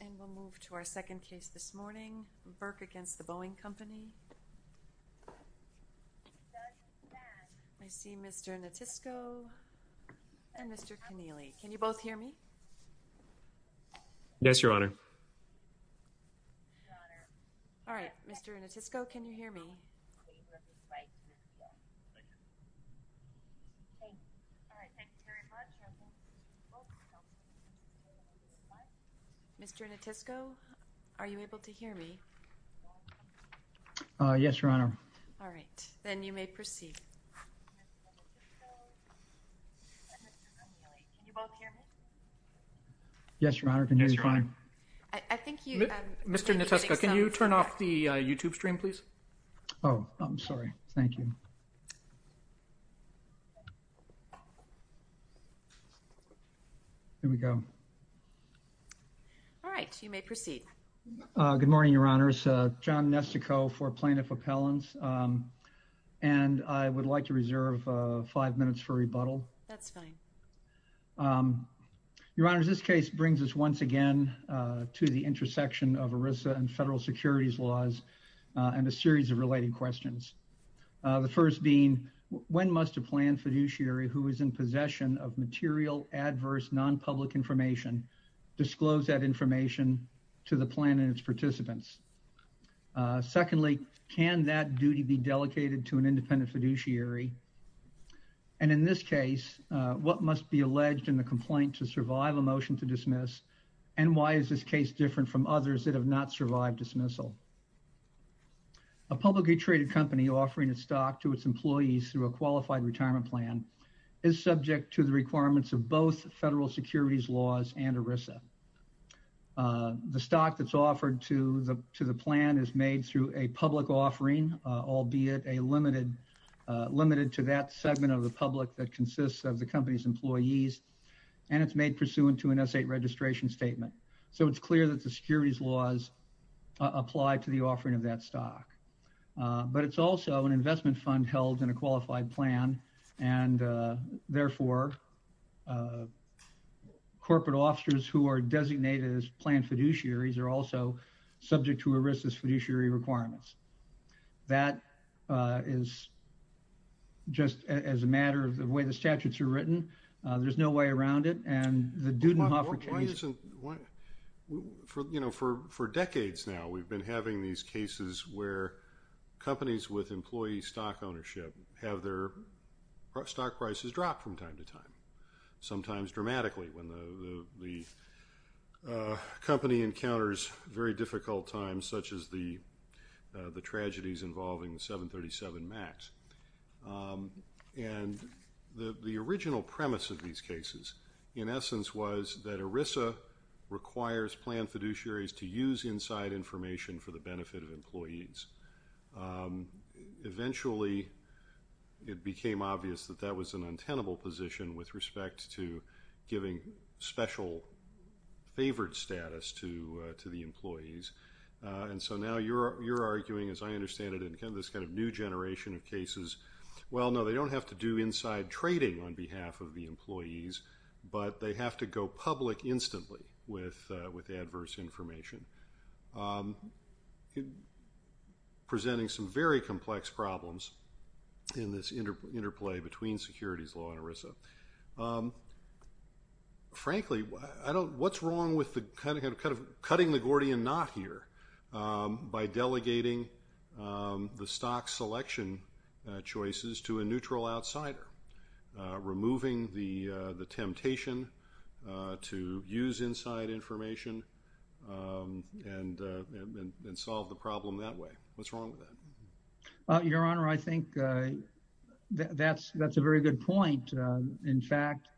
and we'll move to our second case this morning, Burke v. The Boeing Company. I see Mr. Notisco and Mr. Connealy. Can you both hear me? Yes, Your Honor. All right, Mr. Notisco, can you Mr. Notisco, are you able to hear me? Yes, Your Honor. All right, then you may proceed. Yes, Your Honor. Mr. Notisco, can you turn off the YouTube stream, please? Oh, I'm All right, you may proceed. Good morning, Your Honors. John Nestico for Plaintiff Appellants and I would like to reserve five minutes for rebuttal. That's fine. Your Honors, this case brings us once again to the intersection of ERISA and federal securities laws and a series of related questions. The first being, when must a planned fiduciary who is in possession of material adverse non-public information disclose that information to the plan and its participants? Secondly, can that duty be delegated to an independent fiduciary? And in this case, what must be alleged in the complaint to survive a motion to dismiss and why is this case different from others that have not survived dismissal? A publicly traded company offering a stock to its employees through a qualified retirement plan is subject to the requirements of both federal securities laws and ERISA. The stock that's offered to the plan is made through a public offering, albeit limited to that segment of the public that consists of the company's employees and it's made pursuant to an S-8 registration statement. So it's clear that the securities laws apply to the offering of that stock. But it's also an and therefore, corporate officers who are designated as planned fiduciaries are also subject to ERISA's fiduciary requirements. That is just as a matter of the way the statutes are written. There's no way around it and the Dudenhoffer case... Why isn't... for, you know, for decades now we've been having these cases where companies with employee stock ownership have their stock prices drop from time to time, sometimes dramatically when the company encounters very difficult times such as the tragedies involving the 737 MAX. And the original premise of these cases, in essence, was that ERISA requires planned fiduciaries to use inside information for the benefit of employees. Eventually, it became obvious that that was an untenable position with respect to giving special favored status to the employees. And so now you're arguing, as I understand it, in this kind of new generation of cases, well no, they don't have to do inside trading on behalf of the employees, but they have to go public instantly with adverse information, presenting some very complex problems in this interplay between securities law and ERISA. Frankly, I don't... what's wrong with the kind of cutting the Gordian knot here by delegating the stock selection choices to a neutral outsider, removing the temptation to use inside information and solve the problem that way? What's wrong with that? Your Honor, I think that's a very good point. In fact,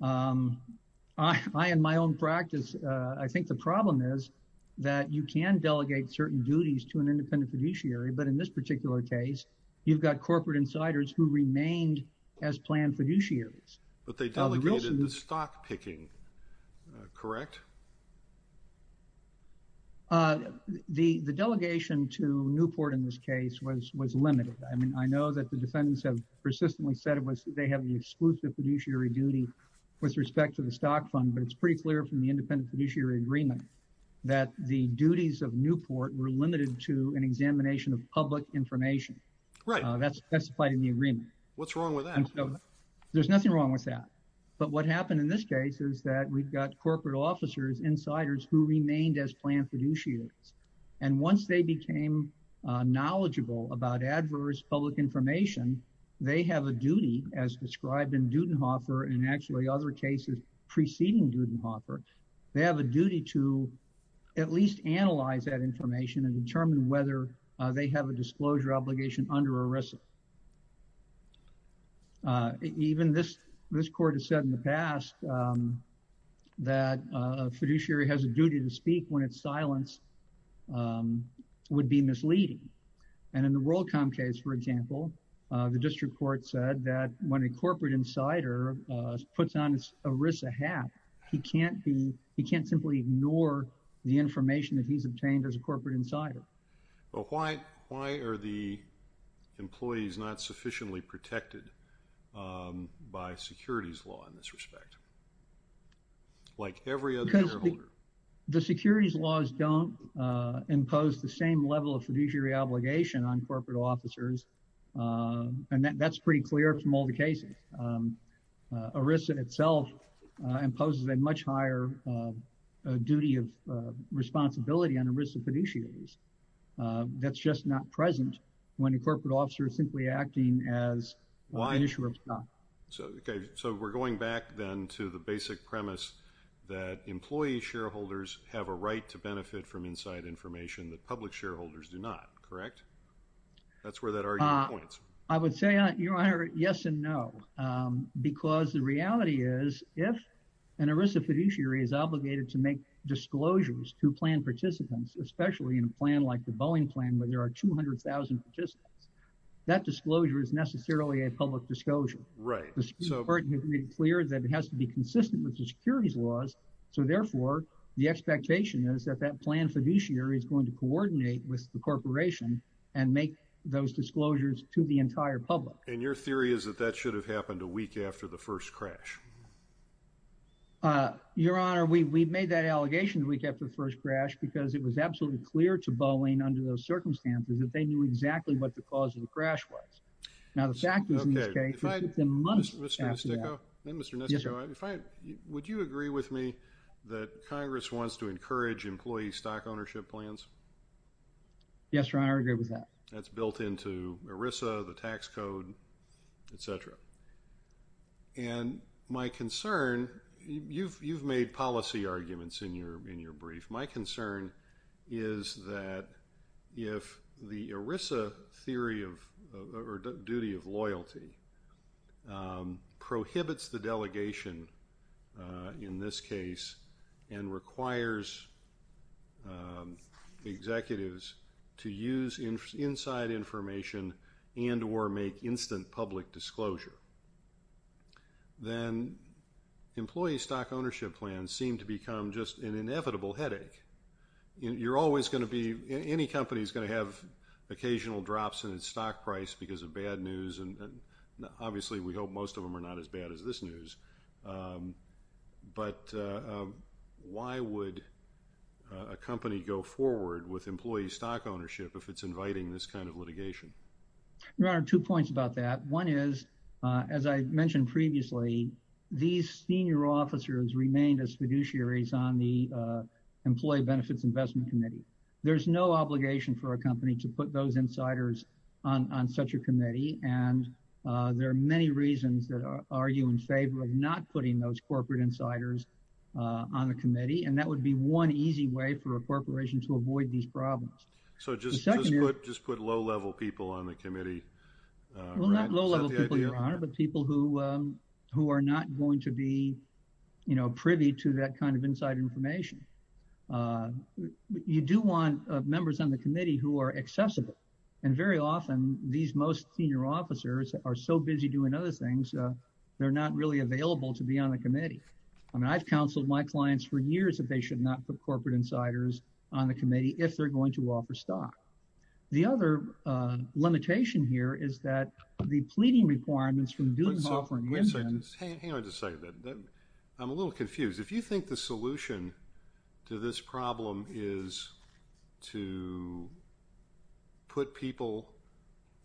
I, in my own practice, I think the problem is that you can delegate certain duties to an independent fiduciary, but in this particular case, you've got corporate insiders who remained as planned fiduciaries. But they delegated the stock picking, correct? The delegation to Newport in this case was limited. I mean, I know that the defendants have persistently said it was, they have the exclusive fiduciary duty with respect to the stock fund, but it's pretty clear from the independent fiduciary agreement that the duties of Newport were limited to an examination of public information. Right. That's specified in the agreement. What's wrong with that? There's nothing wrong with that. But what happened in this case is that we've got corporate officers, insiders, who remained as planned fiduciaries. And once they became knowledgeable about adverse public information, they have a duty as described in Dudenhofer and actually other cases preceding Dudenhofer, they have a duty to at least analyze that information and determine whether they have a disclosure obligation under ERISA. Even this, this court has said in the past that a fiduciary has a duty to speak when it's silenced would be misleading. And in the WorldCom case, for example, the district court said that when a corporate insider puts on his ERISA hat, he can't be, he can't simply ignore the information that he's obtained as a corporate insider. But why, why are the employees not sufficiently protected by securities law in this respect? Like every other shareholder. The securities laws don't impose the same level of fiduciary obligation on fiduciaries. And that's pretty clear from all the cases. ERISA itself imposes a much higher duty of responsibility on ERISA fiduciaries. That's just not present when a corporate officer is simply acting as an issuer of stock. So, okay, so we're going back then to the basic premise that employee shareholders have a right to benefit from inside information that public shareholders do not, correct? That's where that argument points. I would say, Your Honor, yes and no. Because the reality is, if an ERISA fiduciary is obligated to make disclosures to plan participants, especially in a plan like the Boeing plan where there are 200,000 participants, that disclosure is necessarily a public disclosure. Right. The court has made it clear that it has to be consistent with the securities laws. So therefore, the expectation is that that plan fiduciary is going to coordinate with the corporation and make those disclosures to the entire public. And your theory is that that should have happened a week after the first crash? Your Honor, we've made that allegation a week after the first crash because it was absolutely clear to Boeing under those circumstances that they knew exactly what the cause of the crash was. Now, the fact is, in this case, it took them months after that. Mr. Nesticco, would you agree with me that Congress wants to make plans? Yes, Your Honor, I agree with that. That's built into ERISA, the tax code, etc. And my concern, you've made policy arguments in your brief, my concern is that if the ERISA theory of, or duty of loyalty, prohibits the delegation in this case and requires executives to use inside information and or make instant public disclosure, then employee stock ownership plans seem to become just an inevitable headache. You're always going to be, any company is going to have occasional drops in its stock price because of bad news, and obviously we are not as bad as this news, but why would a company go forward with employee stock ownership if it's inviting this kind of litigation? Your Honor, two points about that. One is, as I mentioned previously, these senior officers remained as fiduciaries on the Employee Benefits Investment Committee. There's no obligation for a company to put those insiders on such a committee, and there are many reasons that argue in favor of not putting those corporate insiders on the committee, and that would be one easy way for a corporation to avoid these problems. So just put low-level people on the committee? Well, not low-level people, Your Honor, but people who are not going to be, you know, privy to that kind of inside information. You do want members on the committee who are accessible, and very good at doing other things, they're not really available to be on the committee. I mean, I've counseled my clients for years that they should not put corporate insiders on the committee if they're going to offer stock. The other limitation here is that the pleading requirements from doing the offering. Hang on just a second. I'm a little confused. If you think the solution to this problem is to put people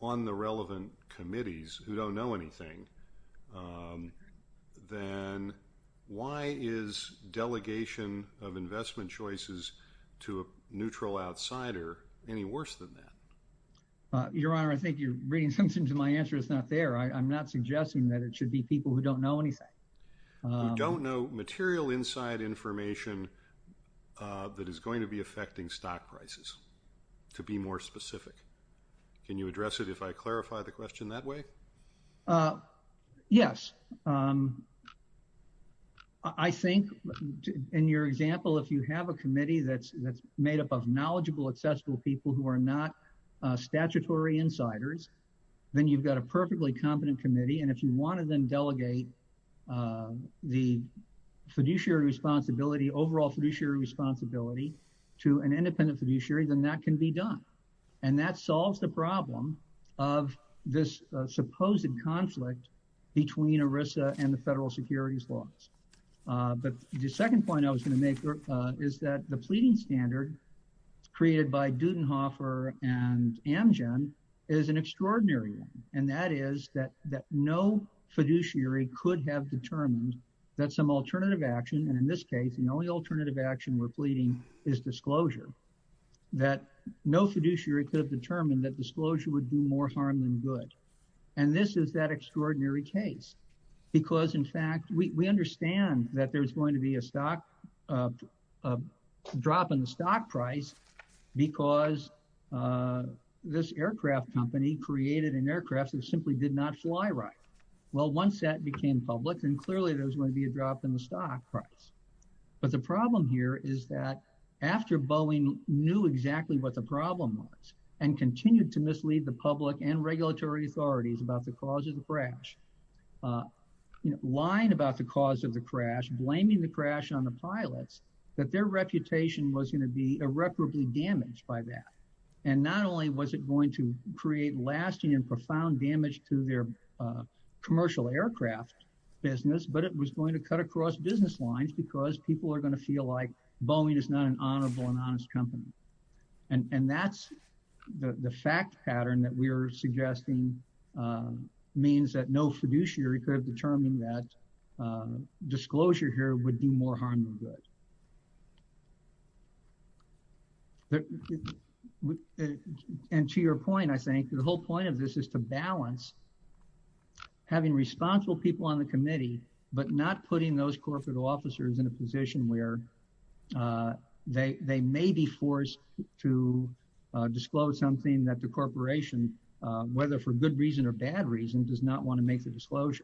on the committee who are not privy to that kind of thing, then why is delegation of investment choices to a neutral outsider any worse than that? Your Honor, I think you're reading something to my answer that's not there. I'm not suggesting that it should be people who don't know anything. Who don't know material inside information that is going to be affecting stock prices, to be more Yes. I think in your example, if you have a committee that's made up of knowledgeable, accessible people who are not statutory insiders, then you've got a perfectly competent committee, and if you want to then delegate the fiduciary responsibility, overall fiduciary responsibility, to an independent fiduciary, then that can be done. And that solves the problem of this supposed conflict between ERISA and the federal securities laws. But the second point I was going to make is that the pleading standard created by Dudenhofer and Amgen is an extraordinary one, and that is that no fiduciary could have determined that some alternative action, and in this case the only alternative action we're pleading is disclosure, that no fiduciary could have determined that was that extraordinary case. Because, in fact, we understand that there's going to be a drop in the stock price because this aircraft company created an aircraft that simply did not fly right. Well, once that became public, then clearly there was going to be a drop in the stock price. But the problem here is that after Boeing knew exactly what the problem was, and continued to mislead the cause of the crash, lying about the cause of the crash, blaming the crash on the pilots, that their reputation was going to be irreparably damaged by that. And not only was it going to create lasting and profound damage to their commercial aircraft business, but it was going to cut across business lines because people are going to feel like Boeing is not an honorable and honest company. And that's the fact pattern that we are suggesting means that no fiduciary could have determined that disclosure here would do more harm than good. And to your point, I think, the whole point of this is to balance having responsible people on the committee, but not putting those corporate officers in a position where they may be forced to disclose something that the corporation, whether for good reason or bad reason, does not want to make the disclosure.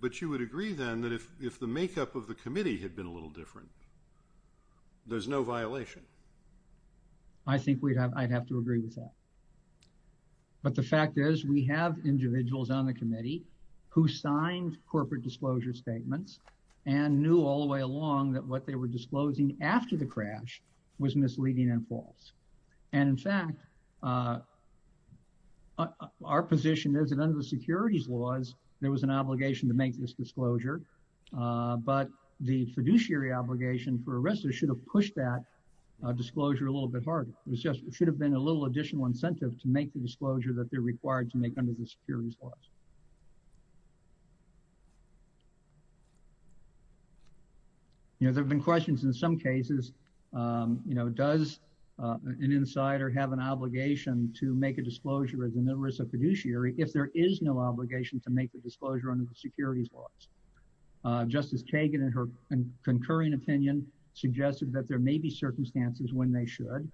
But you would agree then that if the makeup of the committee had been a little different, there's no violation? I think I'd have to agree with that. But the fact is, we have individuals on the committee who signed corporate disclosure statements and knew all the way along that what they were disclosing after the crash was misleading and false. And in fact, our position is that under the securities laws, there was an obligation to make this disclosure. But the fiduciary obligation for arrests should have pushed that disclosure a little bit harder. It was just it should have been a little additional incentive to make the disclosure that they're You know, there have been questions in some cases, you know, does an insider have an obligation to make a disclosure of the numerous fiduciary if there is no obligation to make the disclosure under the securities laws? Justice Kagan, in her concurring opinion, suggested that there may be circumstances when they should.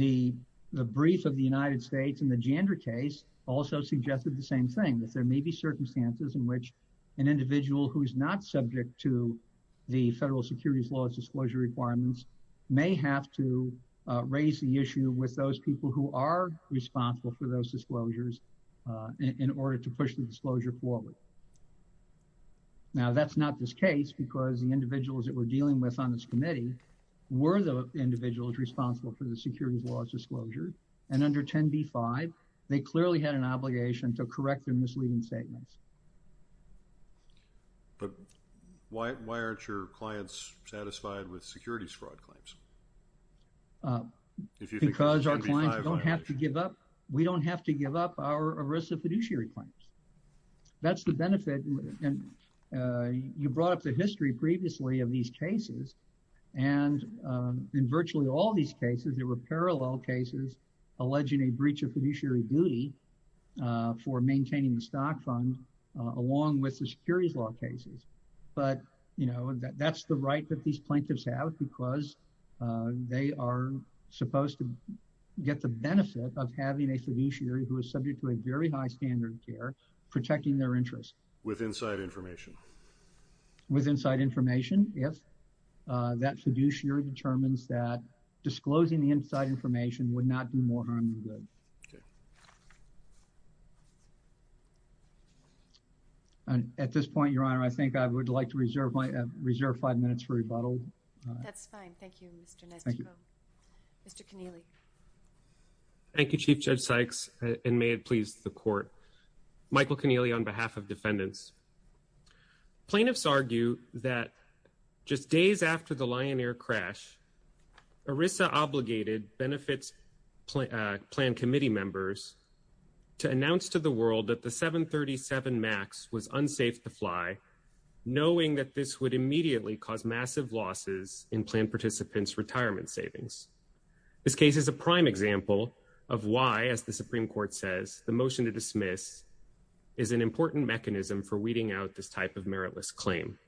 The brief of the United States and the gender case also suggested the same thing, that there may be circumstances in which an individual who is not subject to the federal securities laws disclosure requirements may have to raise the issue with those people who are responsible for those disclosures in order to push the disclosure forward. Now, that's not this case because the individuals that we're dealing with on this committee were the individuals responsible for the securities laws disclosure. And under 10 B five, they clearly had an obligation to correct their misleading statements. But why aren't your clients satisfied with securities fraud claims? Because our clients don't have to give up. We don't have to give up our arrest of fiduciary claims. That's the benefit. And you brought up the history previously of these cases. And in virtually all these cases, there were parallel cases alleging a breach of fiduciary duty for maintaining the securities law cases. But, you know, that's the right that these plaintiffs have because they are supposed to get the benefit of having a fiduciary who is subject to a very high standard of care protecting their interests with inside information, with inside information. If that fiduciary determines that disclosing the inside information would not do more harm than good. Okay. And at this point, Your Honor, I think I would like to reserve my reserve five minutes for rebuttal. That's fine. Thank you, Mr. Nestor. Mr. Keneally. Thank you, Chief Judge Sykes, and may it please the court. Michael Keneally, on behalf of defendants. Plaintiffs argue that just days after the Lion Air crash, ERISA obligated benefits plan committee members to announce to the world that the 737 Max was unsafe to fly, knowing that this would immediately cause massive losses in plan participants' retirement savings. This case is a prime example of why, as the Supreme Court says, the motion to dismiss is an important mechanism for weeding out this type of meritless claim.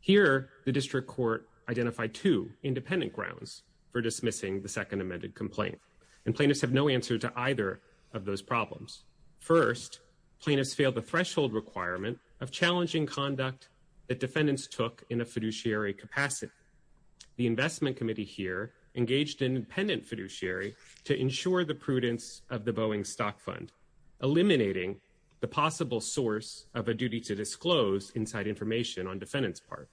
Here, the district court identified two independent grounds for dismissing the second amended complaint, and plaintiffs have no answer to either of those problems. First, plaintiffs failed the threshold requirement of challenging conduct that defendants took in a fiduciary capacity. The investment committee here engaged an independent fiduciary to ensure the prudence of the Boeing stock fund, eliminating the possible source of a on defendant's part.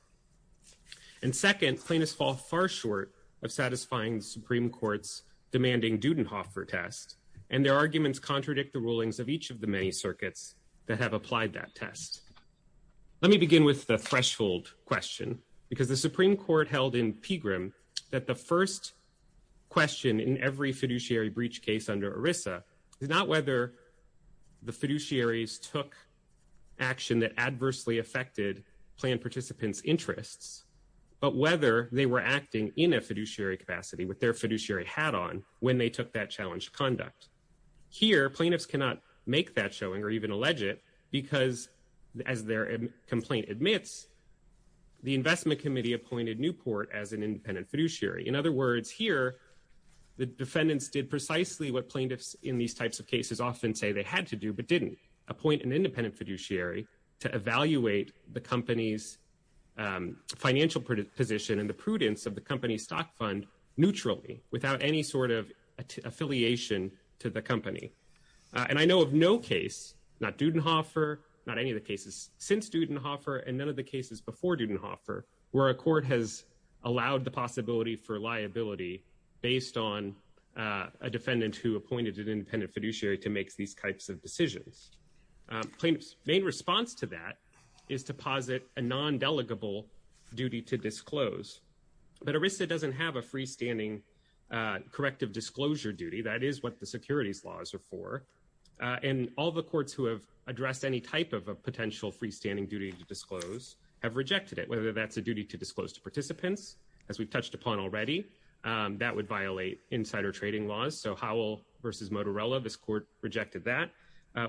And second, plaintiffs fall far short of satisfying the Supreme Court's demanding Dudenhoffer test, and their arguments contradict the rulings of each of the many circuits that have applied that test. Let me begin with the threshold question, because the Supreme Court held in Pegram that the first question in every fiduciary breach case under the fiduciaries took action that adversely affected plan participants' interests, but whether they were acting in a fiduciary capacity with their fiduciary hat on when they took that challenged conduct. Here, plaintiffs cannot make that showing or even allege it, because, as their complaint admits, the investment committee appointed Newport as an independent fiduciary. In other words, here, the defendants did precisely what plaintiffs in these types of cases often say they had to do but didn't, appoint an independent fiduciary to evaluate the company's financial position and the prudence of the company's stock fund neutrally, without any sort of affiliation to the company. And I know of no case, not Dudenhoffer, not any of the cases since Dudenhoffer, and none of the cases before Dudenhoffer, where a court has allowed the possibility for liability based on a defendant who appointed an independent fiduciary to make these types of decisions. Plaintiffs' main response to that is to posit a non-delegable duty to disclose. But ERISA doesn't have a freestanding corrective disclosure duty. That is what the securities laws are for. And all the courts who have addressed any type of a potential freestanding duty to disclose have rejected it. Whether that's a duty to disclose to participants, as we've touched upon already, that would violate insider trading laws. So Howell versus Motorella, this court rejected that.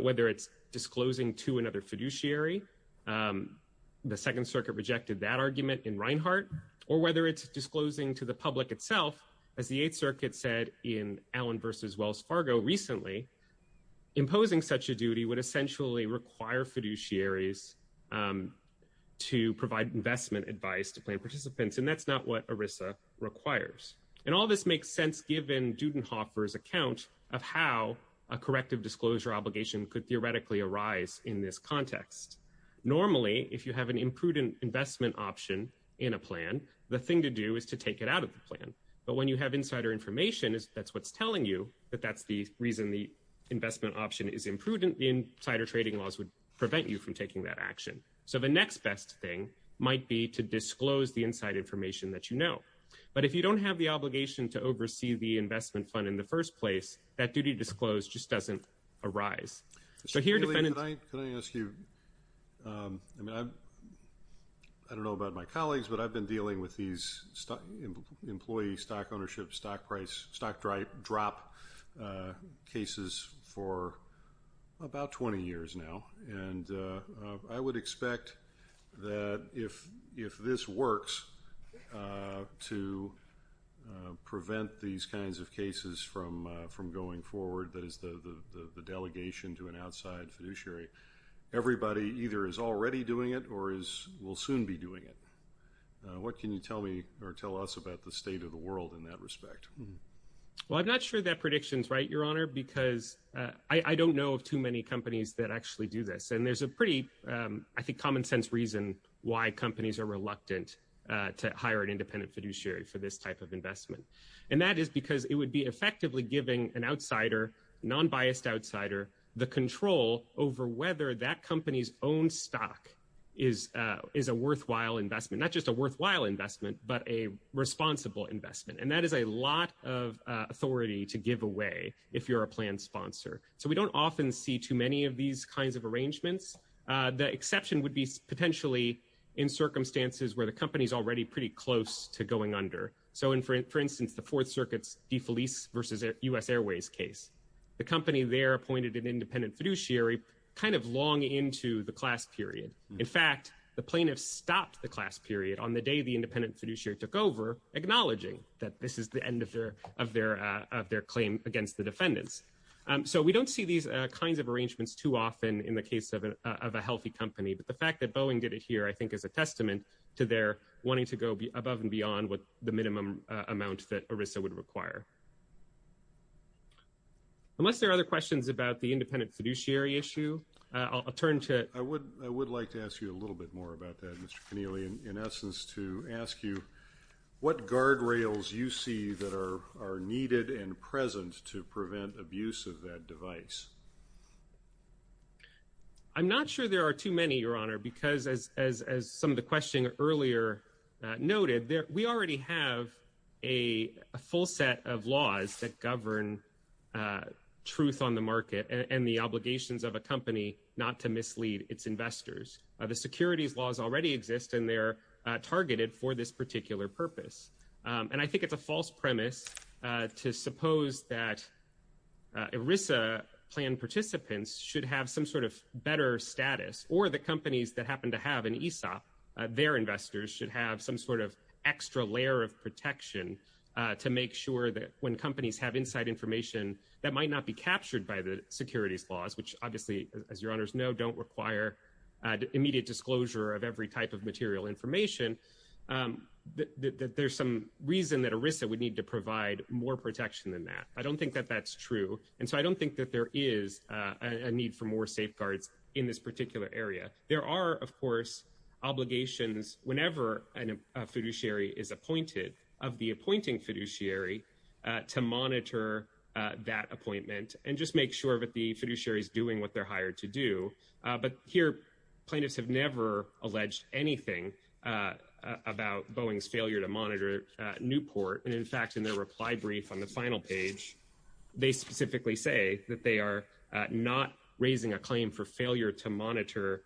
Whether it's disclosing to another fiduciary, the Second Circuit rejected that argument in Reinhart. Or whether it's disclosing to the public itself, as the Eighth Circuit said in Allen versus Wells Fargo recently, imposing such a duty would essentially require fiduciaries to provide investment advice to plaintiff participants. And that's not what ERISA requires. And all this makes sense given Dudenhofer's account of how a corrective disclosure obligation could theoretically arise in this context. Normally, if you have an imprudent investment option in a plan, the thing to do is to take it out of the plan. But when you have insider information, that's what's telling you that that's the reason the investment option is imprudent, the insider trading laws would prevent you from taking that action. So the next best thing might be to disclose the inside information that you know. But if you don't have the oversight of the investment fund in the first place, that duty to disclose just doesn't arise. So here defendants- Can I ask you, I don't know about my colleagues, but I've been dealing with these employee stock ownership, stock price, stock drop cases for about 20 years now. And I would expect that if this works to prevent these kinds of cases from going forward, that is the delegation to an outside fiduciary, everybody either is already doing it or will soon be doing it. What can you tell me or tell us about the state of the world in that respect? Well, I'm not sure that prediction's right, Your Honor, because I don't know of too many companies that actually do this. And there's a pretty, I think, common sense reason why companies are reluctant to hire an independent fiduciary for this type of investment. And that is because it would be effectively giving an outsider, non-biased outsider, the control over whether that company's own stock is a worthwhile investment. Not just a worthwhile investment, but a responsible investment. And that is a lot of authority to give away if you're a So we don't often see too many of these kinds of arrangements. The exception would be potentially in circumstances where the company's already pretty close to going under. So for instance, the Fourth Circuit's DeFelice versus U.S. Airways case. The company there appointed an independent fiduciary kind of long into the class period. In fact, the plaintiffs stopped the class period on the day the independent fiduciary took over, acknowledging that this is the end of their claim against the defendants. So we don't see these kinds of arrangements too often in the case of a healthy company. But the fact that Boeing did it here, I think, is a testament to their wanting to go above and beyond what the minimum amount that ERISA would require. Unless there are other questions about the independent fiduciary issue, I'll turn to I would like to ask you a little bit more about that, Mr. Keneally, in essence to ask you what guardrails you see that are needed and present to prevent abuse of that device. I'm not sure there are too many, Your Honor, because as some of the questions earlier noted, we already have a full set of laws that govern truth on the market and the obligations of a company not to mislead its investors. The securities laws already exist and they're targeted for this particular purpose. And I think it's a false premise to suppose that ERISA plan participants should have some sort of better status, or the companies that happen to have an ESOP, their investors should have some sort of extra layer of protection to make sure that when companies have inside information that might not be captured by the securities laws, which obviously, as Your Honors know, don't require immediate disclosure of every type of material information, there's some reason that ERISA would need to provide more protection than that. I don't think that that's true. And so I don't think that there is a need for more safeguards in this particular area. There are, of course, obligations whenever a fiduciary is appointed of the appointing fiduciary to monitor that appointment and just make sure that the fiduciary is doing what they're hired to do. But here, plaintiffs have never alleged anything about Boeing's failure to monitor Newport. And in fact, in their reply brief on the final page, they specifically say that they are not raising a claim for failure to monitor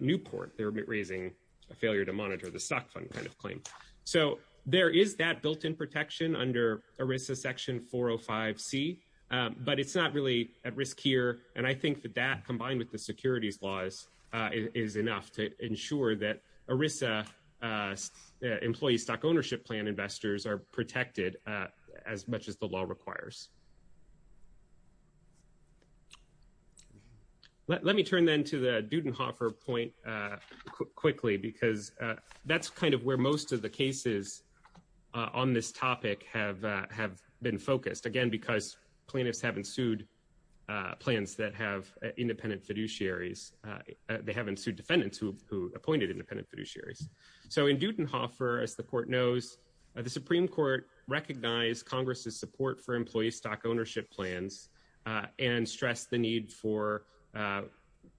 Newport. They're raising a failure to monitor the stock fund kind of claim. So there is that built-in protection under ERISA Section 405C, but it's not really at risk here. And I think that that, combined with the securities laws, is enough to ensure that ERISA employee stock ownership plan investors are protected as much as the law requires. Let me turn then to the Dudenhofer point quickly, because that's where most of the cases on this topic have been focused, again, because plaintiffs have ensued plans that have independent fiduciaries. They have ensued defendants who appointed independent fiduciaries. So in Dudenhofer, as the Court knows, the Supreme Court recognized Congress's support for employee stock ownership plans and stressed the need for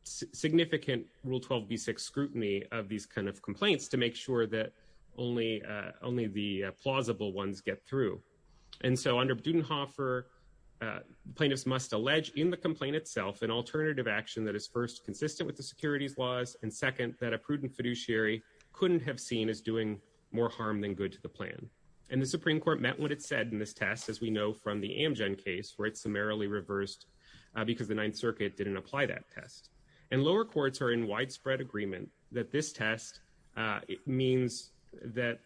significant Rule 12b6 of these kind of complaints to make sure that only the plausible ones get through. And so under Dudenhofer, plaintiffs must allege in the complaint itself an alternative action that is first consistent with the securities laws, and second, that a prudent fiduciary couldn't have seen as doing more harm than good to the plan. And the Supreme Court met what it said in this test, as we know from the Amgen case, where it summarily reversed because the Ninth Circuit didn't apply that test. And lower courts are in that this test means that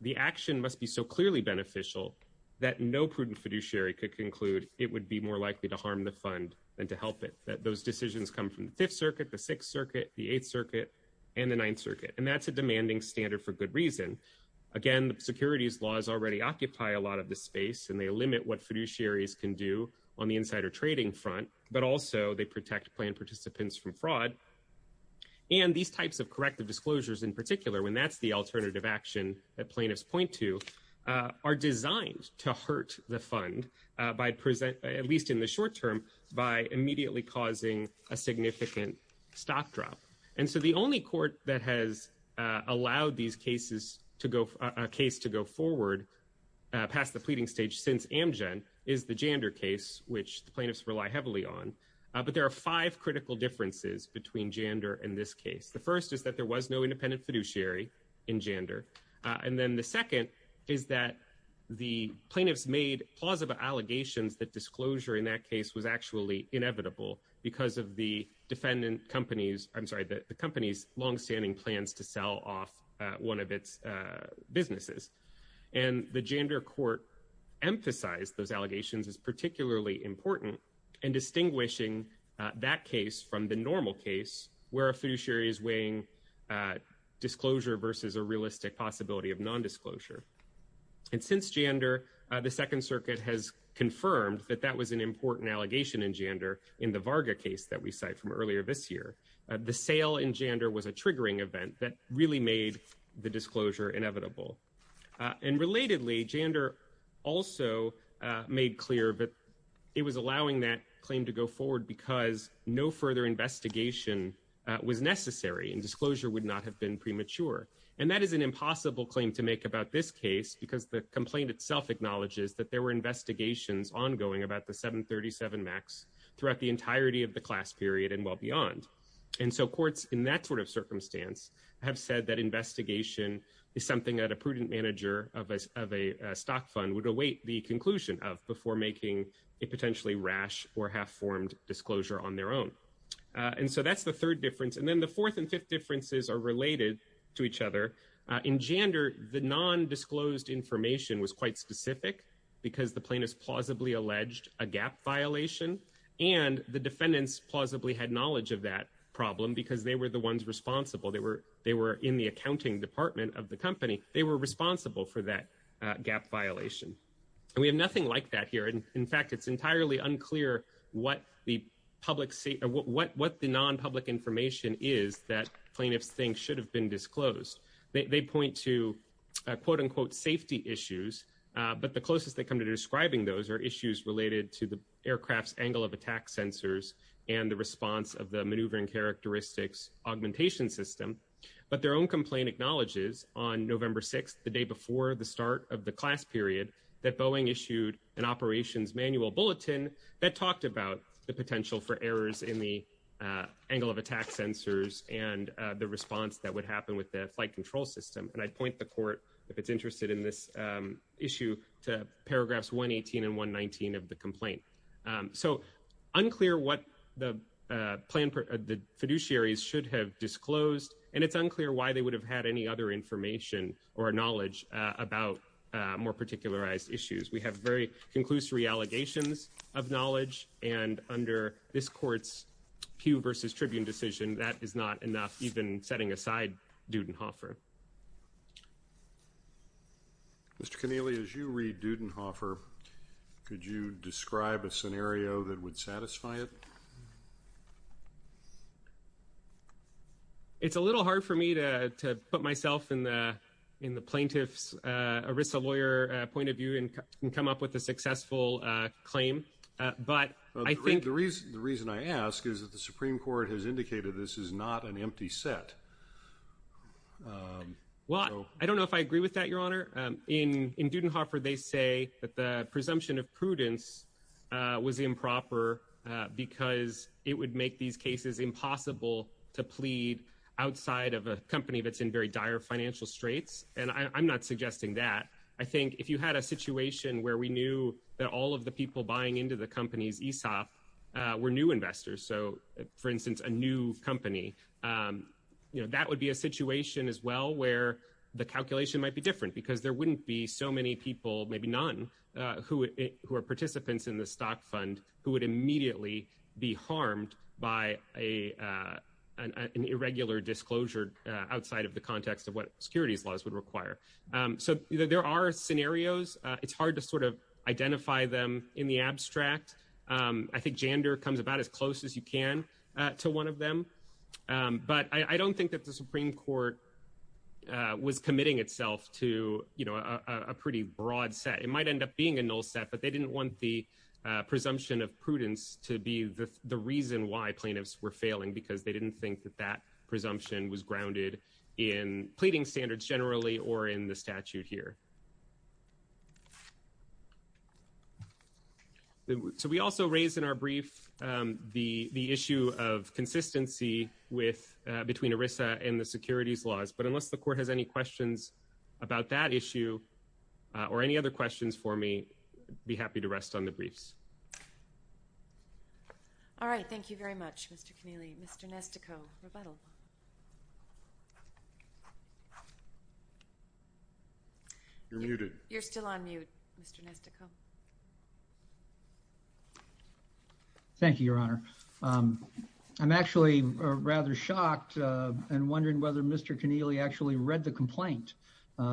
the action must be so clearly beneficial that no prudent fiduciary could conclude it would be more likely to harm the fund than to help it, that those decisions come from the Fifth Circuit, the Sixth Circuit, the Eighth Circuit, and the Ninth Circuit. And that's a demanding standard for good reason. Again, the securities laws already occupy a lot of this space, and they limit what fiduciaries can do on the insider trading front, but also they protect plan participants from fraud. And these types of corrective disclosures in particular, when that's the alternative action that plaintiffs point to, are designed to hurt the fund by present, at least in the short term, by immediately causing a significant stock drop. And so the only court that has allowed these cases to go, a case to go forward past the pleading stage since Amgen is the Jander case, which the plaintiffs rely heavily on. But there are five critical differences between Jander and this case. The first is that there was no independent fiduciary in Jander. And then the second is that the plaintiffs made plausible allegations that disclosure in that case was actually inevitable because of the defendant company's, I'm sorry, the company's longstanding plans to sell off one of its businesses. And the Jander court emphasized those allegations as particularly important in distinguishing that case from the where a fiduciary is weighing disclosure versus a realistic possibility of non-disclosure. And since Jander, the Second Circuit has confirmed that that was an important allegation in Jander in the Varga case that we cite from earlier this year. The sale in Jander was a triggering event that really made the disclosure inevitable. And relatedly, Jander also made clear that it was necessary and disclosure would not have been premature. And that is an impossible claim to make about this case because the complaint itself acknowledges that there were investigations ongoing about the 737 MAX throughout the entirety of the class period and well beyond. And so courts in that sort of circumstance have said that investigation is something that a prudent manager of a stock fund would await the conclusion of before making a potentially rash or half-formed disclosure on their own. And so that's the third difference. And then the fourth and fifth differences are related to each other. In Jander, the non-disclosed information was quite specific because the plaintiff's plausibly alleged a gap violation. And the defendants plausibly had knowledge of that problem because they were the ones responsible. They were in the accounting department of the company. They were responsible for that gap violation. And we have nothing like that here. In fact, it's entirely unclear what the non-public information is that plaintiffs think should have been disclosed. They point to, quote-unquote, safety issues. But the closest they come to describing those are issues related to the aircraft's angle of attack sensors and the response of the maneuvering characteristics augmentation system. But their own complaint acknowledges on November 6th, the day before the start of the class period, that Boeing issued an operations manual bulletin that talked about the potential for errors in the angle of attack sensors and the response that would happen with the flight control system. And I'd point the court, if it's interested in this issue, to paragraphs 118 and 119 of the complaint. So unclear what the fiduciaries should have disclosed. And it's unclear why they would have had any other information or knowledge about more particularized issues. We have very conclusory allegations of knowledge. And under this court's Pew versus Tribune decision, that is not enough, even setting aside Dudenhofer. Mr. Connealy, as you read Dudenhofer, could you describe a scenario that would satisfy it? It's a little hard for me to put myself in the plaintiff's ERISA lawyer point and come up with a successful claim. The reason I ask is that the Supreme Court has indicated this is not an empty set. Well, I don't know if I agree with that, Your Honor. In Dudenhofer, they say that the presumption of prudence was improper because it would make these cases impossible to plead outside of a company that's in very dire financial straits. And I'm not suggesting that. I think if you had a situation where we knew that all of the people buying into the company's ESOP were new investors, so, for instance, a new company, that would be a situation as well where the calculation might be different because there wouldn't be so many people, maybe none, who are participants in the stock fund who would immediately be harmed by an irregular disclosure outside of the context of what securities laws would require. So there are scenarios. It's hard to identify them in the abstract. I think gender comes about as close as you can to one of them. But I don't think that the Supreme Court was committing itself to a pretty broad set. It might end up being a null set, but they didn't want the presumption of prudence to be the reason why plaintiffs were failing because they didn't think that that presumption was grounded in pleading standards generally or in the statute here. So we also raised in our brief the issue of consistency between ERISA and the securities laws. But unless the Court has any questions about that issue or any other questions for me, I'd be happy to rest on the briefs. All right. Thank you very much, Mr. Keneally. Mr. Nestico, rebuttal. You're muted. You're still on mute, Mr. Nestico. Thank you, Your Honor. I'm actually rather shocked and wondering whether Mr. Keneally actually read the complaint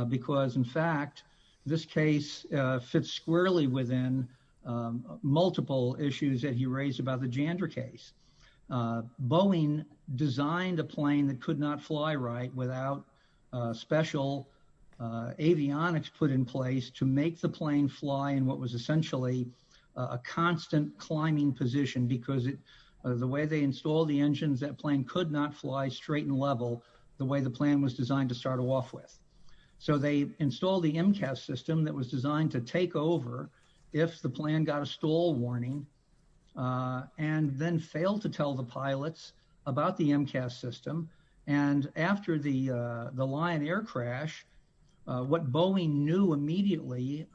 because, in fact, this case fits squarely within multiple issues that he raised about the Jander case. Boeing designed a plane that could not fly right without special avionics put in place to make the plane fly in what was essentially a constant climbing position because the way they installed the engines, that plane could not fly straight and level the way the plan was designed to start off with. So they installed the MCAS system that was designed to take over if the plan got a stall warning and then failed to tell the pilots about the MCAS system. And after the the Lion Air crash, what Boeing knew immediately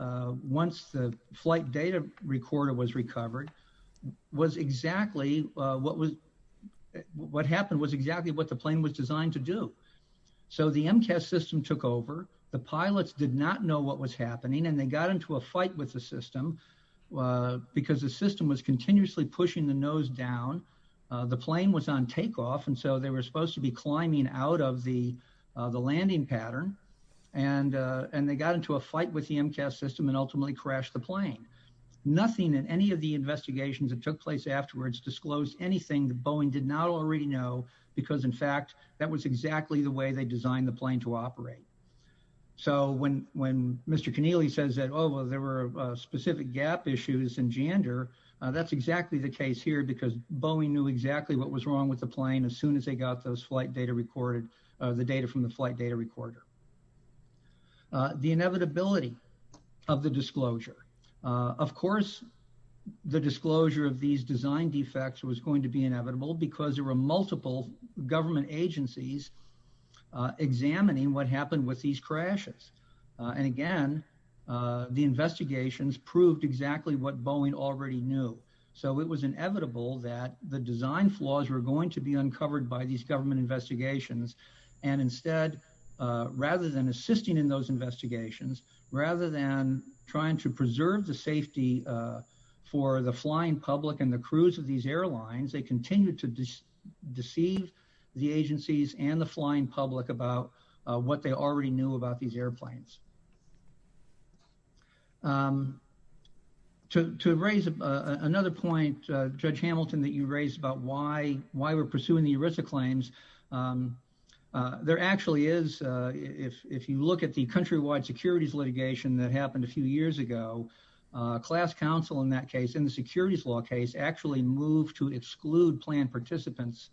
once the flight data recorder was recovered was exactly what was what happened was exactly what the plane was designed to do. So the MCAS system took over. The pilots did not know what was happening, and they got into a fight with the system because the system was continuously pushing the nose down. The plane was on takeoff, and so they were supposed to be climbing out of the system and ultimately crash the plane. Nothing in any of the investigations that took place afterwards disclosed anything that Boeing did not already know because, in fact, that was exactly the way they designed the plane to operate. So when Mr. Keneally says that, oh, well, there were specific gap issues in Jander, that's exactly the case here because Boeing knew exactly what was wrong with the plane as soon as they got those flight data recorded, the data from the flight data recorder. The inevitability of the disclosure. Of course, the disclosure of these design defects was going to be inevitable because there were multiple government agencies examining what happened with these crashes. And again, the investigations proved exactly what Boeing already knew. So it was inevitable that the design flaws were going to be uncovered by these investigations. And instead, rather than assisting in those investigations, rather than trying to preserve the safety for the flying public and the crews of these airlines, they continued to deceive the agencies and the flying public about what they already knew about these airplanes. To raise another point, Judge Hamilton, that you raised about why we're pursuing the ERISA claims. There actually is, if you look at the countrywide securities litigation that happened a few years ago, class counsel in that case, in the securities law case, actually moved to exclude plan participants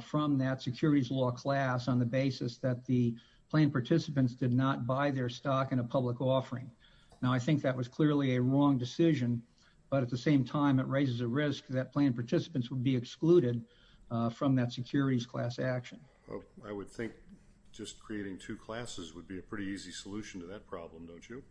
from that securities law class on the basis that the plan participants did not buy their stock in a public offering. Now, I think that was clearly a wrong decision, but at the same time, it raises a risk that plan participants would be excluded from that securities class action. I would think just creating two classes would be a pretty easy solution to that problem, don't you?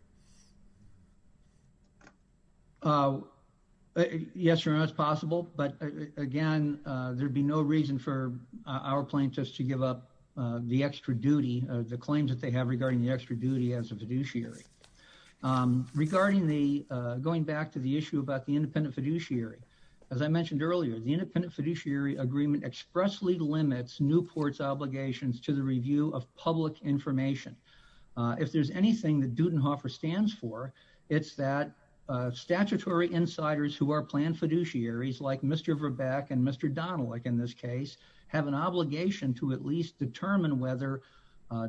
Yes, Your Honor, it's possible, but again, there'd be no reason for our plaintiffs to give up the extra duty, the claims that they have regarding the extra duty as a fiduciary. Regarding the, going back to the issue about the independent fiduciary, as I mentioned earlier, the independent fiduciary agreement expressly limits Newport's obligations to the review of public information. If there's anything that Dudenhofer stands for, it's that statutory insiders who are planned fiduciaries, like Mr. Verbeck and Mr. Donelick in this case, have an obligation to at least determine whether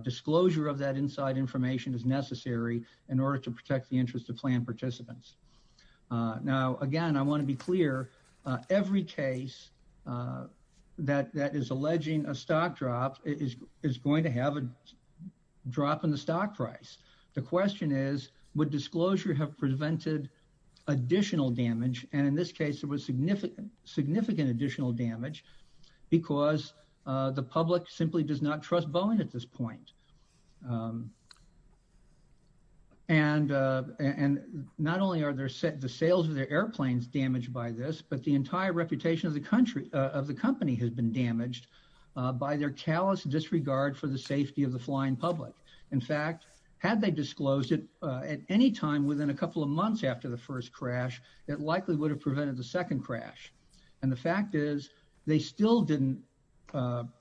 disclosure of that inside information is necessary in order to protect the interest of plan participants. Now, again, I want to be clear, every case that is alleging a stock drop is going to have a drop in the stock price. The question is, would disclosure have prevented additional damage? And in this case, there was significant additional damage because the public simply does not trust Boeing at this point. And not only are the sales of their airplanes damaged by this, but the entire reputation of the company has been damaged by their callous disregard for the safety of the flying public. In fact, had they disclosed it at any time within a couple of months after the first crash, it likely would have prevented the second crash. And the fact is, they still didn't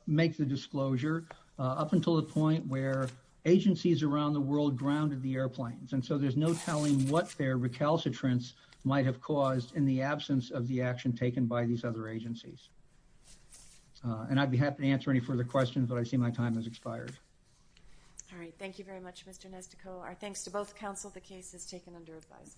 make the disclosure up until the point where agencies around the world grounded the airplanes. And so there's no telling what their recalcitrance might have caused in the absence of the action taken by these other agencies. And I'd be happy to answer any further questions, but I see my time has expired. All right. Thank you very much, Mr. Nestico. Our thanks to both counsel. The case is taken under advice.